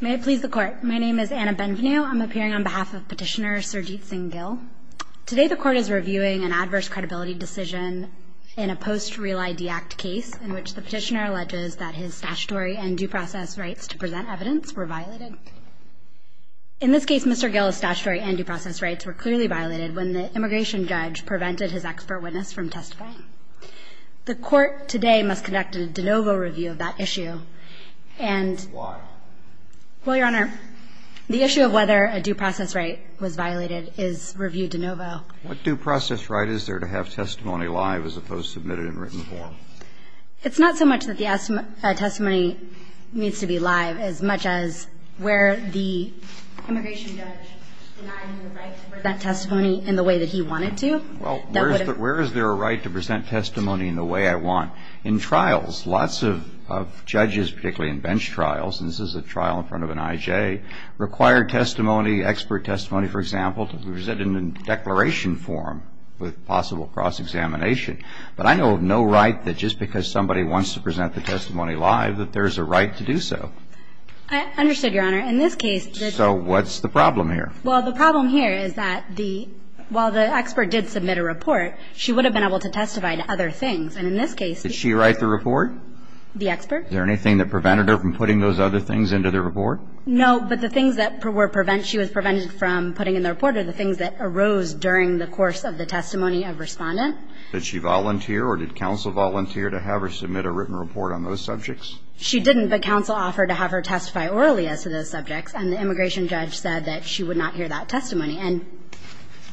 May it please the court. My name is Anna Benvenue. I'm appearing on behalf of Petitioner Sarjeet Singh Gill. Today the court is reviewing an adverse credibility decision in a post-Real ID Act case in which the petitioner alleges that his statutory and due process rights to present evidence were violated. In this case, Mr. Gill's statutory and due process rights were clearly violated when the immigration judge prevented his expert witness from testifying. The court today must conduct a de novo review of that issue. And why? Well, Your Honor, the issue of whether a due process right was violated is reviewed de novo. What due process right is there to have testimony live as opposed to submitted in written form? It's not so much that the testimony needs to be live as much as where the immigration judge denied me the right to present testimony in the way that he wanted to. Well, where is there a right to present testimony in the way I want? In trials. Lots of judges, particularly in bench trials, and this is a trial in front of an IJ, require testimony, expert testimony, for example, to be presented in declaration form with possible cross-examination. But I know of no right that just because somebody wants to present the testimony live that there's a right to do so. I understood, Your Honor. In this case, the So what's the problem here? Well, the problem here is that while the expert did submit a report, she would have been able to testify to other things. And in this case Did she write the report? The expert. Is there anything that prevented her from putting those other things into the report? No, but the things that she was prevented from putting in the report are the things that arose during the course of the testimony of Respondent. Did she volunteer or did counsel volunteer to have her submit a written report on those subjects? She didn't, but counsel offered to have her testify orally as to those subjects. And the immigration judge said that she would not hear that testimony. And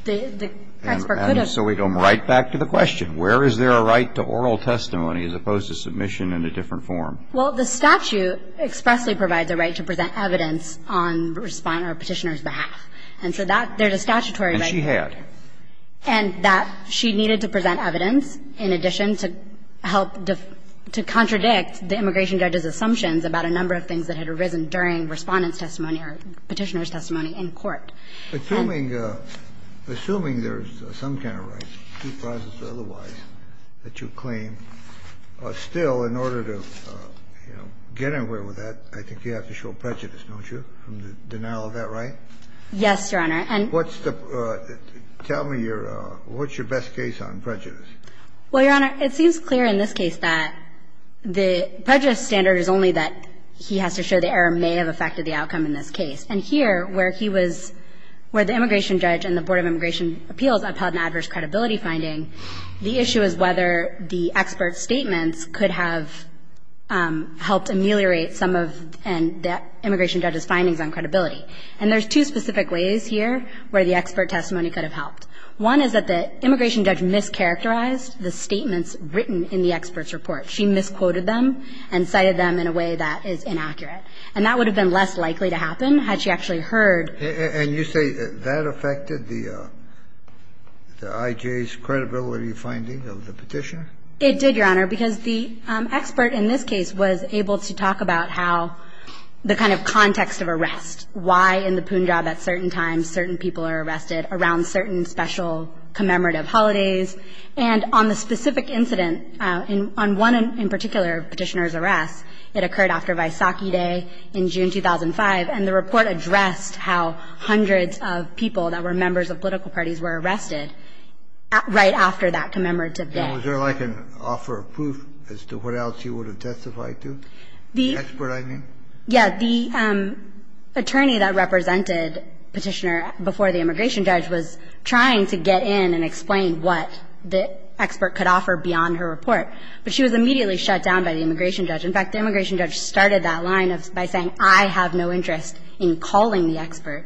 the expert could have. And so we go right back to the question. Where is there a right to oral testimony as opposed to submission in a different form? Well, the statute expressly provides a right to present evidence on Respondent or Petitioner's behalf. And so that there's a statutory right. And she had. And that she needed to present evidence in addition to help to contradict the immigration judge's assumptions about a number of things that had arisen during Respondent's testimony or Petitioner's testimony in court. Assuming, assuming there's some kind of right, due process or otherwise, that you claim, still, in order to, you know, get anywhere with that, I think you have to show prejudice, don't you, from the denial of that right? Yes, Your Honor. And what's the, tell me your, what's your best case on prejudice? Well, Your Honor, it seems clear in this case that the prejudice standard is only that he has to show the error may have affected the outcome in this case. And here, where he was, where the immigration judge and the Board of Immigration Appeals upheld an adverse credibility finding, the issue is whether the expert statements could have helped ameliorate some of the immigration judge's findings on credibility. And there's two specific ways here where the expert testimony could have helped. One is that the immigration judge mischaracterized the statements written in the expert's report. She misquoted them and cited them in a way that is inaccurate. And that would have been less likely to happen had she actually heard. And you say that affected the IJ's credibility finding of the petition? It did, Your Honor, because the expert in this case was able to talk about how the kind of context of arrest, why in the Punjab at certain times certain people are arrested around certain special commemorative holidays. And on the specific incident, on one in particular petitioner's arrest, it occurred after Vaisakhi Day in June 2005. And the report addressed how hundreds of people that were members of political parties were arrested right after that commemorative day. And was there, like, an offer of proof as to what else you would have testified to, the expert, I mean? Yeah. The attorney that represented Petitioner before the immigration judge was trying to get in and explain what the expert could offer beyond her report. But she was immediately shut down by the immigration judge. In fact, the immigration judge started that line by saying, I have no interest in calling the expert.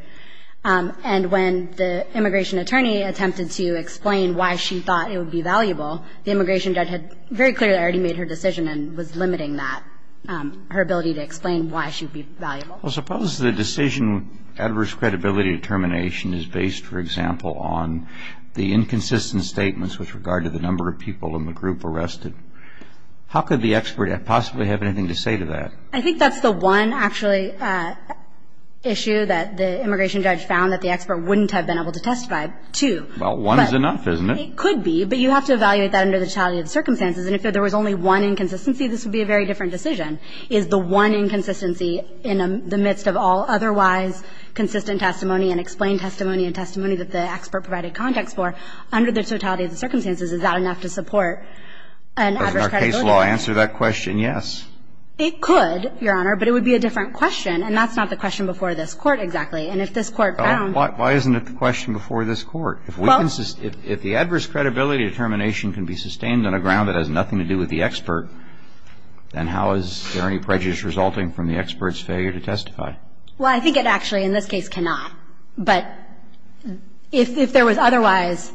And when the immigration attorney attempted to explain why she thought it would be valuable, the immigration judge had very clearly already made her decision and was limiting that, her ability to explain why she would be valuable. Well, suppose the decision with adverse credibility determination is based, for example, on the inconsistent statements with regard to the number of people in the group arrested. How could the expert possibly have anything to say to that? I think that's the one, actually, issue that the immigration judge found that the expert wouldn't have been able to testify to. Well, one is enough, isn't it? It could be. But you have to evaluate that under the totality of the circumstances. And if there was only one inconsistency, this would be a very different decision. Is the one inconsistency in the midst of all otherwise consistent testimony and explained testimony and testimony that the expert provided context for, under the totality of the circumstances, is that enough to support an adverse credibility determination? Doesn't our case law answer that question? Yes. It could, Your Honor, but it would be a different question. And that's not the question before this Court exactly. And if this Court found Why isn't it the question before this Court? Well If the adverse credibility determination can be sustained on a ground that has nothing to do with the expert, then how is there any prejudice resulting from the expert's failure to testify? Well, I think it actually, in this case, cannot. But if there was otherwise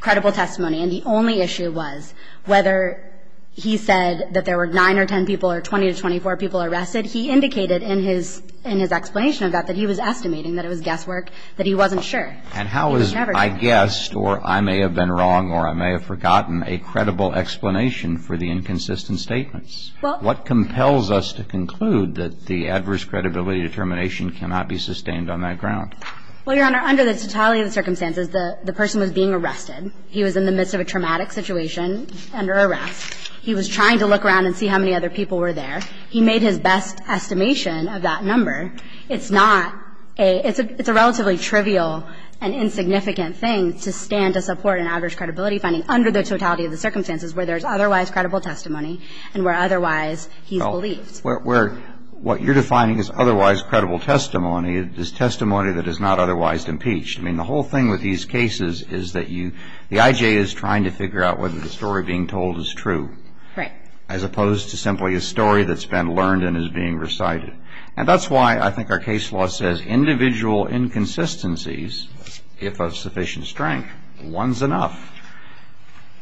credible testimony and the only issue was whether he said that there were 9 or 10 people or 20 to 24 people arrested, he indicated in his explanation of that that he was estimating, that it was guesswork, that he wasn't sure. And how is Never I guessed or I may have been wrong or I may have forgotten a credible explanation for the inconsistent statements? Well So what compels us to conclude that the adverse credibility determination cannot be sustained on that ground? Well, Your Honor, under the totality of the circumstances, the person was being arrested. He was in the midst of a traumatic situation under arrest. He was trying to look around and see how many other people were there. He made his best estimation of that number. It's not a – it's a relatively trivial and insignificant thing to stand to support an adverse credibility finding under the totality of the circumstances where there Well, what you're defining as otherwise credible testimony is testimony that is not otherwise impeached. I mean, the whole thing with these cases is that you – the IJ is trying to figure out whether the story being told is true. Right. As opposed to simply a story that's been learned and is being recited. And that's why I think our case law says individual inconsistencies, if of sufficient strength, one's enough.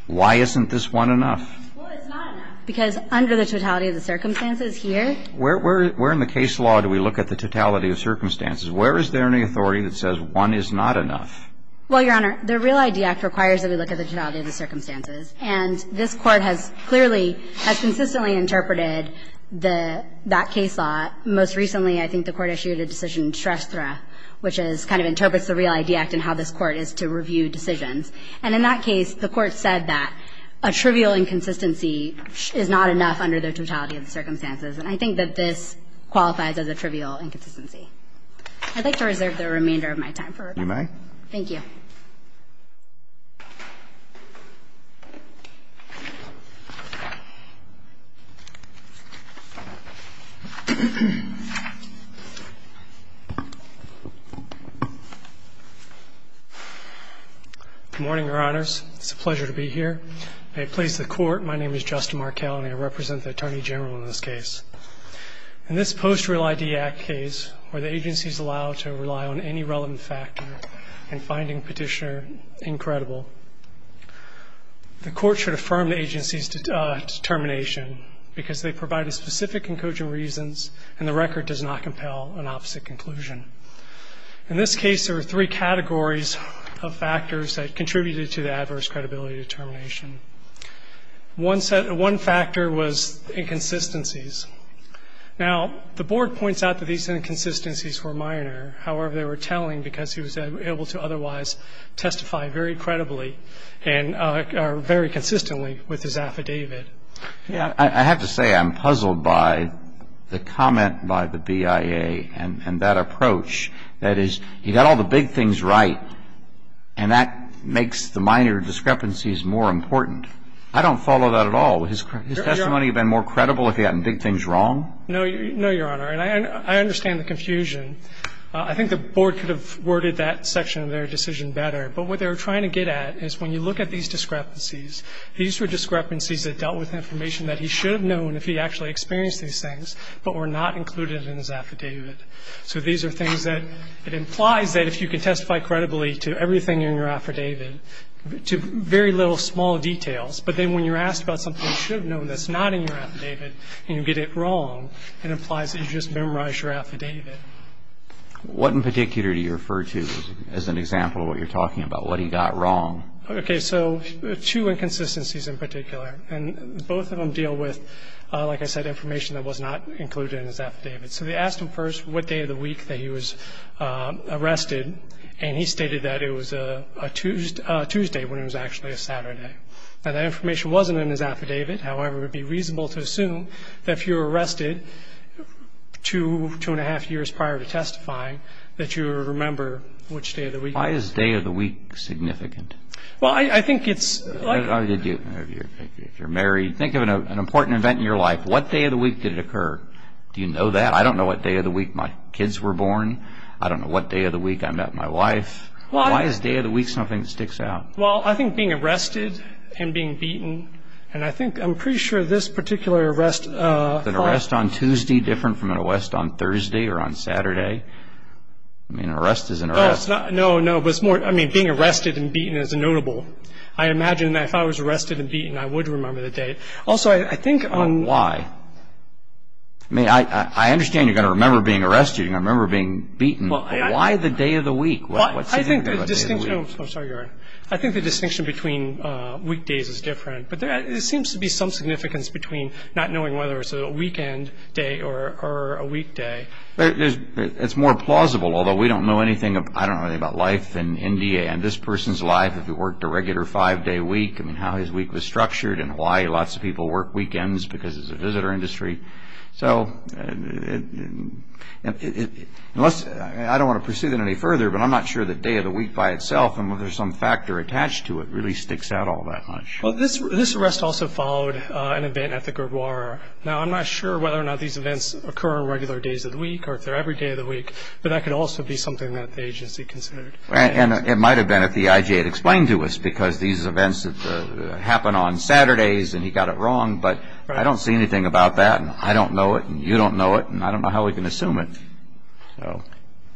Why isn't this one enough? Well, it's not enough. Because under the totality of the circumstances here – Where in the case law do we look at the totality of circumstances? Where is there any authority that says one is not enough? Well, Your Honor, the Real ID Act requires that we look at the totality of the circumstances. And this Court has clearly – has consistently interpreted the – that case law. Most recently, I think the Court issued a decision, Shrestha, which is – kind of interprets the Real ID Act and how this Court is to review decisions. And in that case, the Court said that a trivial inconsistency is not enough under the totality of the circumstances. And I think that this qualifies as a trivial inconsistency. I'd like to reserve the remainder of my time for rebuttal. You may. Thank you. Good morning, Your Honors. It's a pleasure to be here. May it please the Court, my name is Justin Markell, and I represent the Attorney General in this case. In this post-Real ID Act case, where the agency is allowed to rely on any relevant factor in finding Petitioner incredible, the Court should affirm the agency's determination because they provide a specific conclusion reasons and the record does not compel an opposite conclusion. In this case, there were three categories of factors that contributed to the adverse credibility determination. One set – one factor was inconsistencies. Now, the Board points out that these inconsistencies were minor. However, they were telling because he was able to otherwise testify very credibly and very consistently with his affidavit. Yeah. I have to say I'm puzzled by the comment by the BIA and that approach. That is, he got all the big things right, and that makes the minor discrepancies more important. I don't follow that at all. Would his testimony have been more credible if he had big things wrong? No, Your Honor. And I understand the confusion. I think the Board could have worded that section of their decision better. But what they were trying to get at is when you look at these discrepancies, these were discrepancies that dealt with information that he should have known if he actually experienced these things but were not included in his affidavit. So these are things that it implies that if you can testify credibly to everything in your affidavit, to very little small details, but then when you're asked about something you should have known that's not in your affidavit and you get it wrong, it implies that you just memorized your affidavit. What in particular do you refer to as an example of what you're talking about, what he got wrong? Okay. So two inconsistencies in particular, and both of them deal with, like I said, information that was not included in his affidavit. So they asked him first what day of the week that he was arrested, and he stated that it was a Tuesday when it was actually a Saturday. Now, that information wasn't in his affidavit. However, it would be reasonable to assume that if you were arrested two, two-and-a-half years prior to testifying that you would remember which day of the week. Why is day of the week significant? Well, I think it's like... If you're married, think of an important event in your life. What day of the week did it occur? Do you know that? I don't know what day of the week my kids were born. I don't know what day of the week I met my wife. Why is day of the week something that sticks out? Well, I think being arrested and being beaten. And I think I'm pretty sure this particular arrest... Was an arrest on Tuesday different from an arrest on Thursday or on Saturday? I mean, an arrest is an arrest. No, no. I mean, being arrested and beaten is notable. I imagine that if I was arrested and beaten, I would remember the date. Also, I think... Why? I mean, I understand you're going to remember being arrested. Why the day of the week? What's significant about day of the week? I think the distinction between weekdays is different. But there seems to be some significance between not knowing whether it's a weekend day or a weekday. It's more plausible, although we don't know anything... I don't know anything about life in India and this person's life if he worked a regular five-day week. I mean, how his week was structured. In Hawaii, lots of people work weekends because it's a visitor industry. So... I don't want to pursue that any further. But I'm not sure the day of the week by itself and whether there's some factor attached to it really sticks out all that much. Well, this arrest also followed an event at the Gurdwara. Now, I'm not sure whether or not these events occur on regular days of the week or if they're every day of the week. But that could also be something that the agency considered. And it might have been if the IJ had explained to us because these events happen on Saturdays and he got it wrong. But I don't see anything about that. And I don't know it and you don't know it. And I don't know how we can assume it.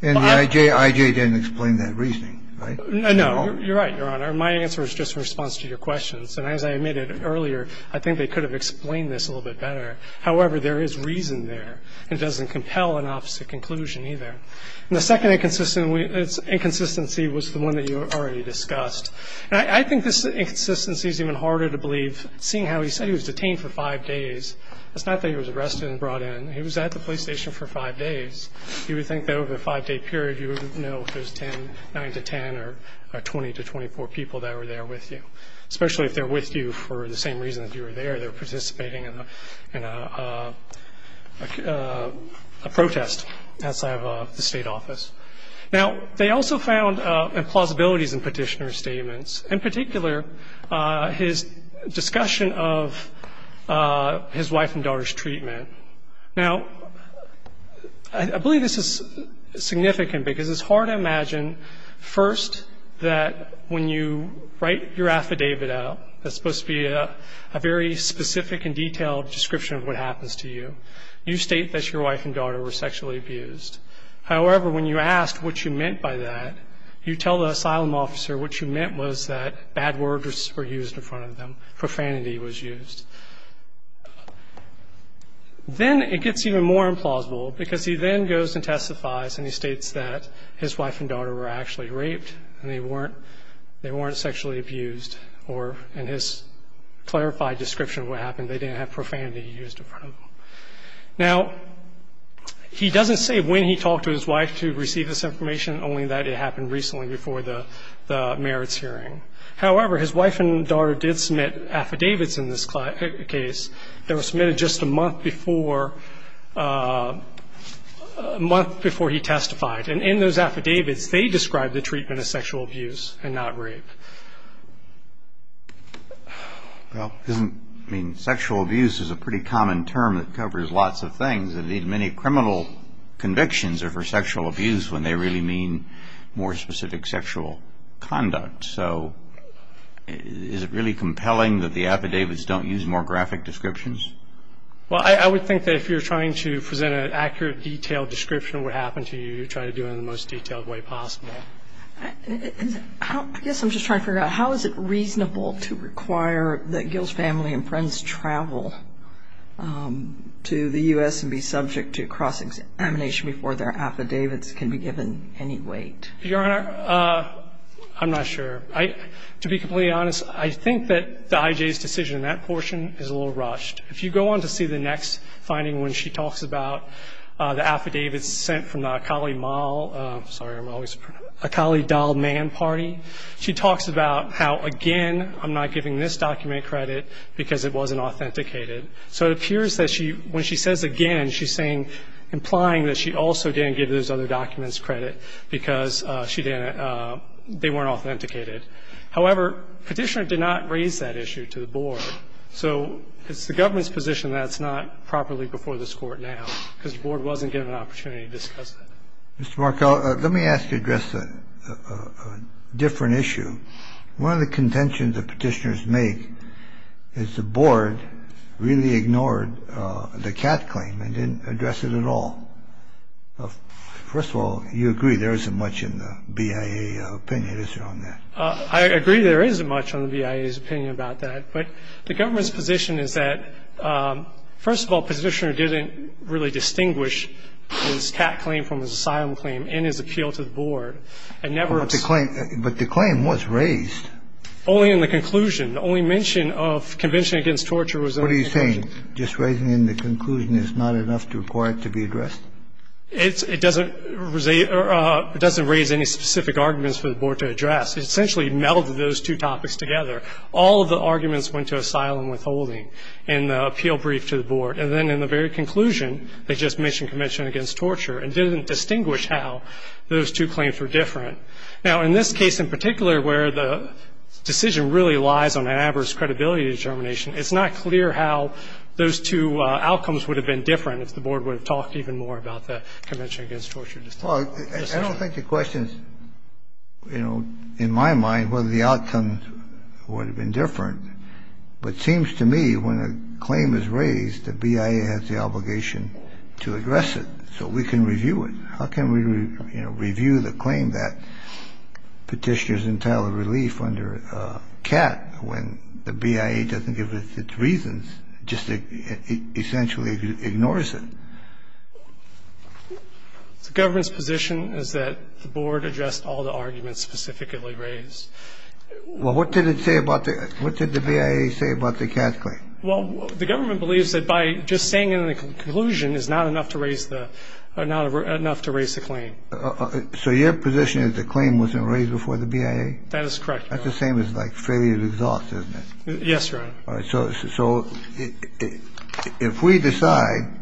And the IJ didn't explain that reasoning, right? No, you're right, Your Honor. My answer is just in response to your questions. And as I admitted earlier, I think they could have explained this a little bit better. However, there is reason there. It doesn't compel an opposite conclusion either. And the second inconsistency was the one that you already discussed. And I think this inconsistency is even harder to believe seeing how he said he was detained for five days. It's not that he was arrested and brought in. He was at the police station for five days. You would think that over a five-day period you would know if there's 10, 9 to 10, or 20 to 24 people that were there with you. Especially if they're with you for the same reason that you were there. They were participating in a protest outside of the state office. Now, they also found implausibilities in petitioner's statements. In particular, his discussion of his wife and daughter's treatment. Now, I believe this is significant because it's hard to imagine, first, that when you write your affidavit out, that's supposed to be a very specific and detailed description of what happens to you, you state that your wife and daughter were sexually abused. However, when you asked what you meant by that, you tell the asylum officer what you meant was that bad words were used in front of them, profanity was used. Then it gets even more implausible because he then goes and testifies and he states that his wife and daughter were actually raped and they weren't sexually abused, or in his clarified description of what happened, they didn't have profanity used in front of them. Now, he doesn't say when he talked to his wife to receive this information, only that it happened recently before the merits hearing. However, his wife and daughter did submit affidavits in this case that were submitted just a month before he testified. And in those affidavits, they described the treatment as sexual abuse and not rape. Well, sexual abuse is a pretty common term that covers lots of things. Many criminal convictions are for sexual abuse when they really mean more specific sexual conduct. So is it really compelling that the affidavits don't use more graphic descriptions? Well, I would think that if you're trying to present an accurate, detailed description of what happened to you, you're trying to do it in the most detailed way possible. I guess I'm just trying to figure out how is it reasonable to require that Gil's family and friends travel to the U.S. and be subject to cross-examination before their affidavits can be given any weight? Your Honor, I'm not sure. To be completely honest, I think that the I.J.'s decision in that portion is a little rushed. If you go on to see the next finding when she talks about the affidavits sent from the Akali Mall – sorry, I'm always – Akali Dahl Mann Party, she talks about how, again, I'm not giving this document credit because it wasn't authenticated. So it appears that she – when she says again, she's saying – implying that she also didn't give those other documents credit because she didn't – they weren't authenticated. However, Petitioner did not raise that issue to the Board. So it's the government's position that it's not properly before this Court now because the Board wasn't given an opportunity to discuss it. Mr. Markell, let me ask you to address a different issue. One of the contentions that Petitioners make is the Board really ignored the Katt claim and didn't address it at all. First of all, you agree there isn't much in the BIA opinion, is there, on that? I agree there isn't much on the BIA's opinion about that. But the government's position is that, first of all, Petitioner didn't really distinguish his Katt claim from his asylum claim in his appeal to the Board. I never – But the claim was raised. Only in the conclusion. The only mention of Convention Against Torture was – What are you saying? Just raising it in the conclusion is not enough to require it to be addressed? It doesn't raise any specific arguments for the Board to address. It essentially melded those two topics together. All of the arguments went to asylum withholding in the appeal brief to the Board. And then in the very conclusion, they just mentioned Convention Against Torture and didn't distinguish how those two claims were different. Now, in this case in particular where the decision really lies on an adverse credibility determination, it's not clear how those two outcomes would have been different if the Board would have talked even more about the Convention Against Torture decision. Well, I don't think the question is, you know, in my mind whether the outcomes would have been different. But it seems to me when a claim is raised, the BIA has the obligation to address it so we can review it. How can we, you know, review the claim that Petitioner's entitled relief under Katt when the BIA doesn't give its reasons, just essentially ignores it? The government's position is that the Board addressed all the arguments specifically raised. Well, what did it say about the – what did the BIA say about the Katt claim? Well, the government believes that by just saying in the conclusion is not enough to raise the – or not enough to raise the claim. So your position is the claim wasn't raised before the BIA? That is correct, Your Honor. That's the same as, like, failure to exhaust, isn't it? Yes, Your Honor. All right. So if we decide,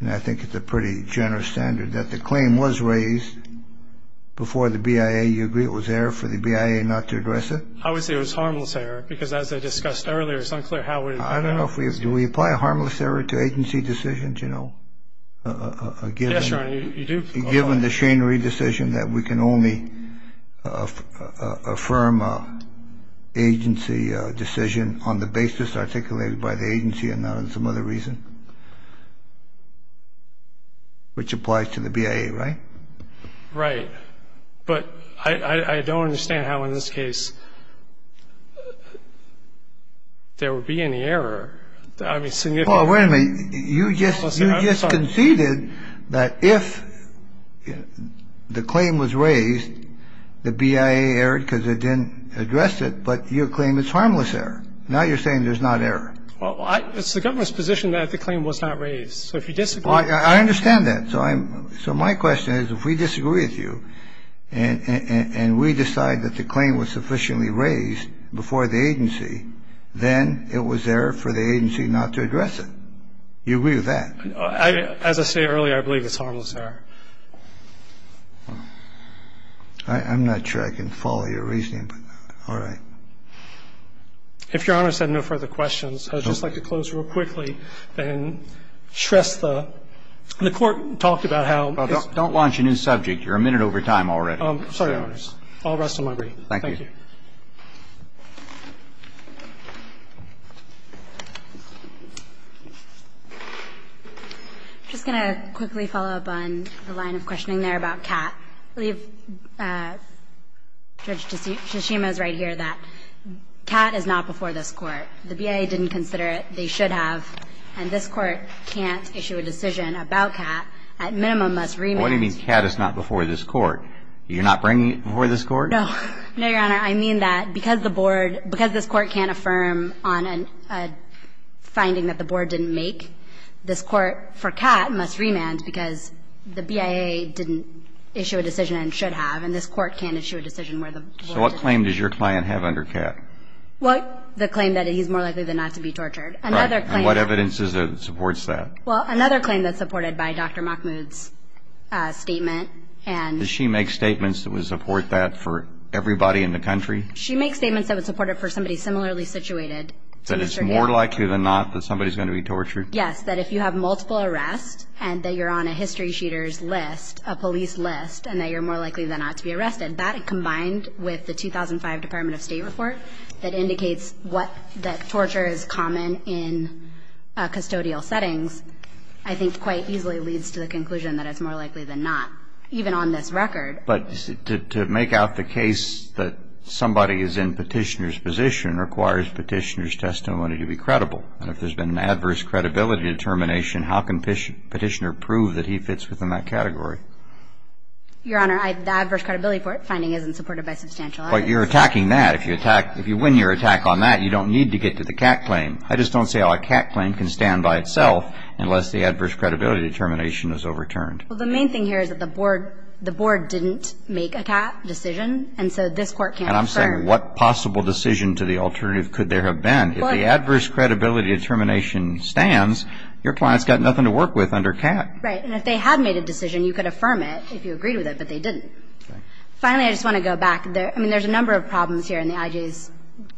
and I think it's a pretty generous standard, that the claim was raised before the BIA, you agree it was error for the BIA not to address it? I would say it was harmless error because as I discussed earlier, it's unclear how we – I don't know if we – do we apply a harmless error to agency decisions, you know? Yes, Your Honor, you do. Given the Schenry decision that we can only affirm agency decision on the basis articulated by the agency and not on some other reason, which applies to the BIA, right? Right. But I don't understand how in this case there would be any error. I mean, significant – the claim was raised, the BIA erred because it didn't address it, but your claim is harmless error. Now you're saying there's not error. Well, it's the government's position that the claim was not raised. So if you disagree – I understand that. So I'm – so my question is if we disagree with you and we decide that the claim was sufficiently raised before the agency, then it was error for the agency not to address it. You agree with that? As I say earlier, I believe it's harmless error. I'm not sure I can follow your reasoning, but all right. If Your Honor has had no further questions, I would just like to close real quickly and stress the – the Court talked about how it's – Well, don't launch a new subject. You're a minute over time already. I'm sorry, Your Honors. All the rest of my brief. Thank you. Thank you. I'm just going to quickly follow up on the line of questioning there about Catt. I believe Judge Tshishima is right here that Catt is not before this Court. The BIA didn't consider it. They should have. And this Court can't issue a decision about Catt. At minimum, must remand – What do you mean, Catt is not before this Court? You're not bringing it before this Court? No. No, Your Honor. I mean that because the Board – because this Court can't affirm on a finding that the Board didn't make this Court for Catt must remand because the BIA didn't issue a decision and should have, and this Court can't issue a decision where the Board didn't. So what claim does your client have under Catt? Well, the claim that he's more likely than not to be tortured. Right. And what evidence is there that supports that? Well, another claim that's supported by Dr. Mahmoud's statement and – Does she make statements that would support that for everybody in the country? She makes statements that would support it for somebody similarly situated to Mr. Gale. That it's more likely than not that somebody's going to be tortured? Yes. That if you have multiple arrests and that you're on a history-sheeter's list, a police list, and that you're more likely than not to be arrested, that combined with the 2005 Department of State report that indicates what – that torture is common in custodial settings, I think quite easily leads to the conclusion that it's more likely than not, even on this record. But to make out the case that somebody is in Petitioner's position requires Petitioner's testimony to be credible. And if there's been an adverse credibility determination, how can Petitioner prove that he fits within that category? Your Honor, the adverse credibility finding isn't supported by substantial evidence. But you're attacking that. If you attack – if you win your attack on that, you don't need to get to the Catt claim. I just don't see how a Catt claim can stand by itself unless the adverse credibility determination is overturned. Well, the main thing here is that the Board didn't make a Catt decision, and so this Court can't affirm – And I'm saying what possible decision to the alternative could there have been? If the adverse credibility determination stands, your client's got nothing to work with under Catt. Right. And if they had made a decision, you could affirm it if you agreed with it, but they didn't. Finally, I just want to go back. I mean, there's a number of problems here in the I.J.'s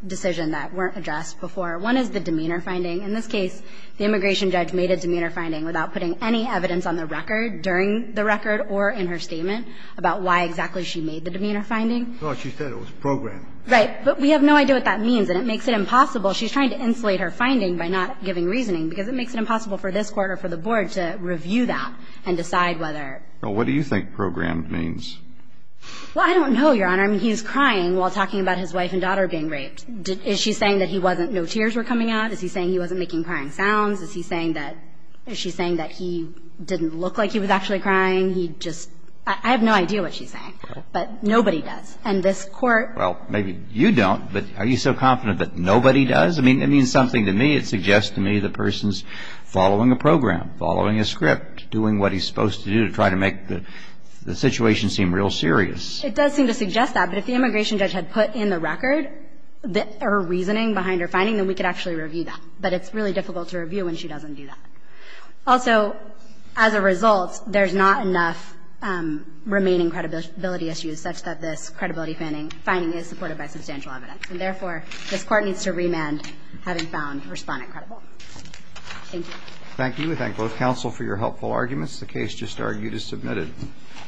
decision that weren't addressed before. One is the demeanor finding. In this case, the immigration judge made a demeanor finding without putting any evidence on the record during the record or in her statement about why exactly she made the demeanor finding. No, she said it was programmed. Right. But we have no idea what that means, and it makes it impossible. She's trying to insulate her finding by not giving reasoning because it makes it impossible for this Court or for the Board to review that and decide whether. Well, what do you think programmed means? Well, I don't know, Your Honor. I mean, he's crying while talking about his wife and daughter being raped. Is she saying that he wasn't – no tears were coming out? Is he saying he wasn't making crying sounds? Is he saying that – is she saying that he didn't look like he was actually crying? He just – I have no idea what she's saying. Well. But nobody does. And this Court – Well, maybe you don't, but are you so confident that nobody does? I mean, it means something to me. It suggests to me the person's following a program, following a script, doing what he's supposed to do to try to make the situation seem real serious. It does seem to suggest that. But if the immigration judge had put in the record her reasoning behind her finding, then we could actually review that. But it's really difficult to review when she doesn't do that. Also, as a result, there's not enough remaining credibility issues such that this credibility finding is supported by substantial evidence. And therefore, this Court needs to remand having found respondent credible. Thank you. Thank you. We thank both counsel for your helpful arguments. The case just argued is submitted.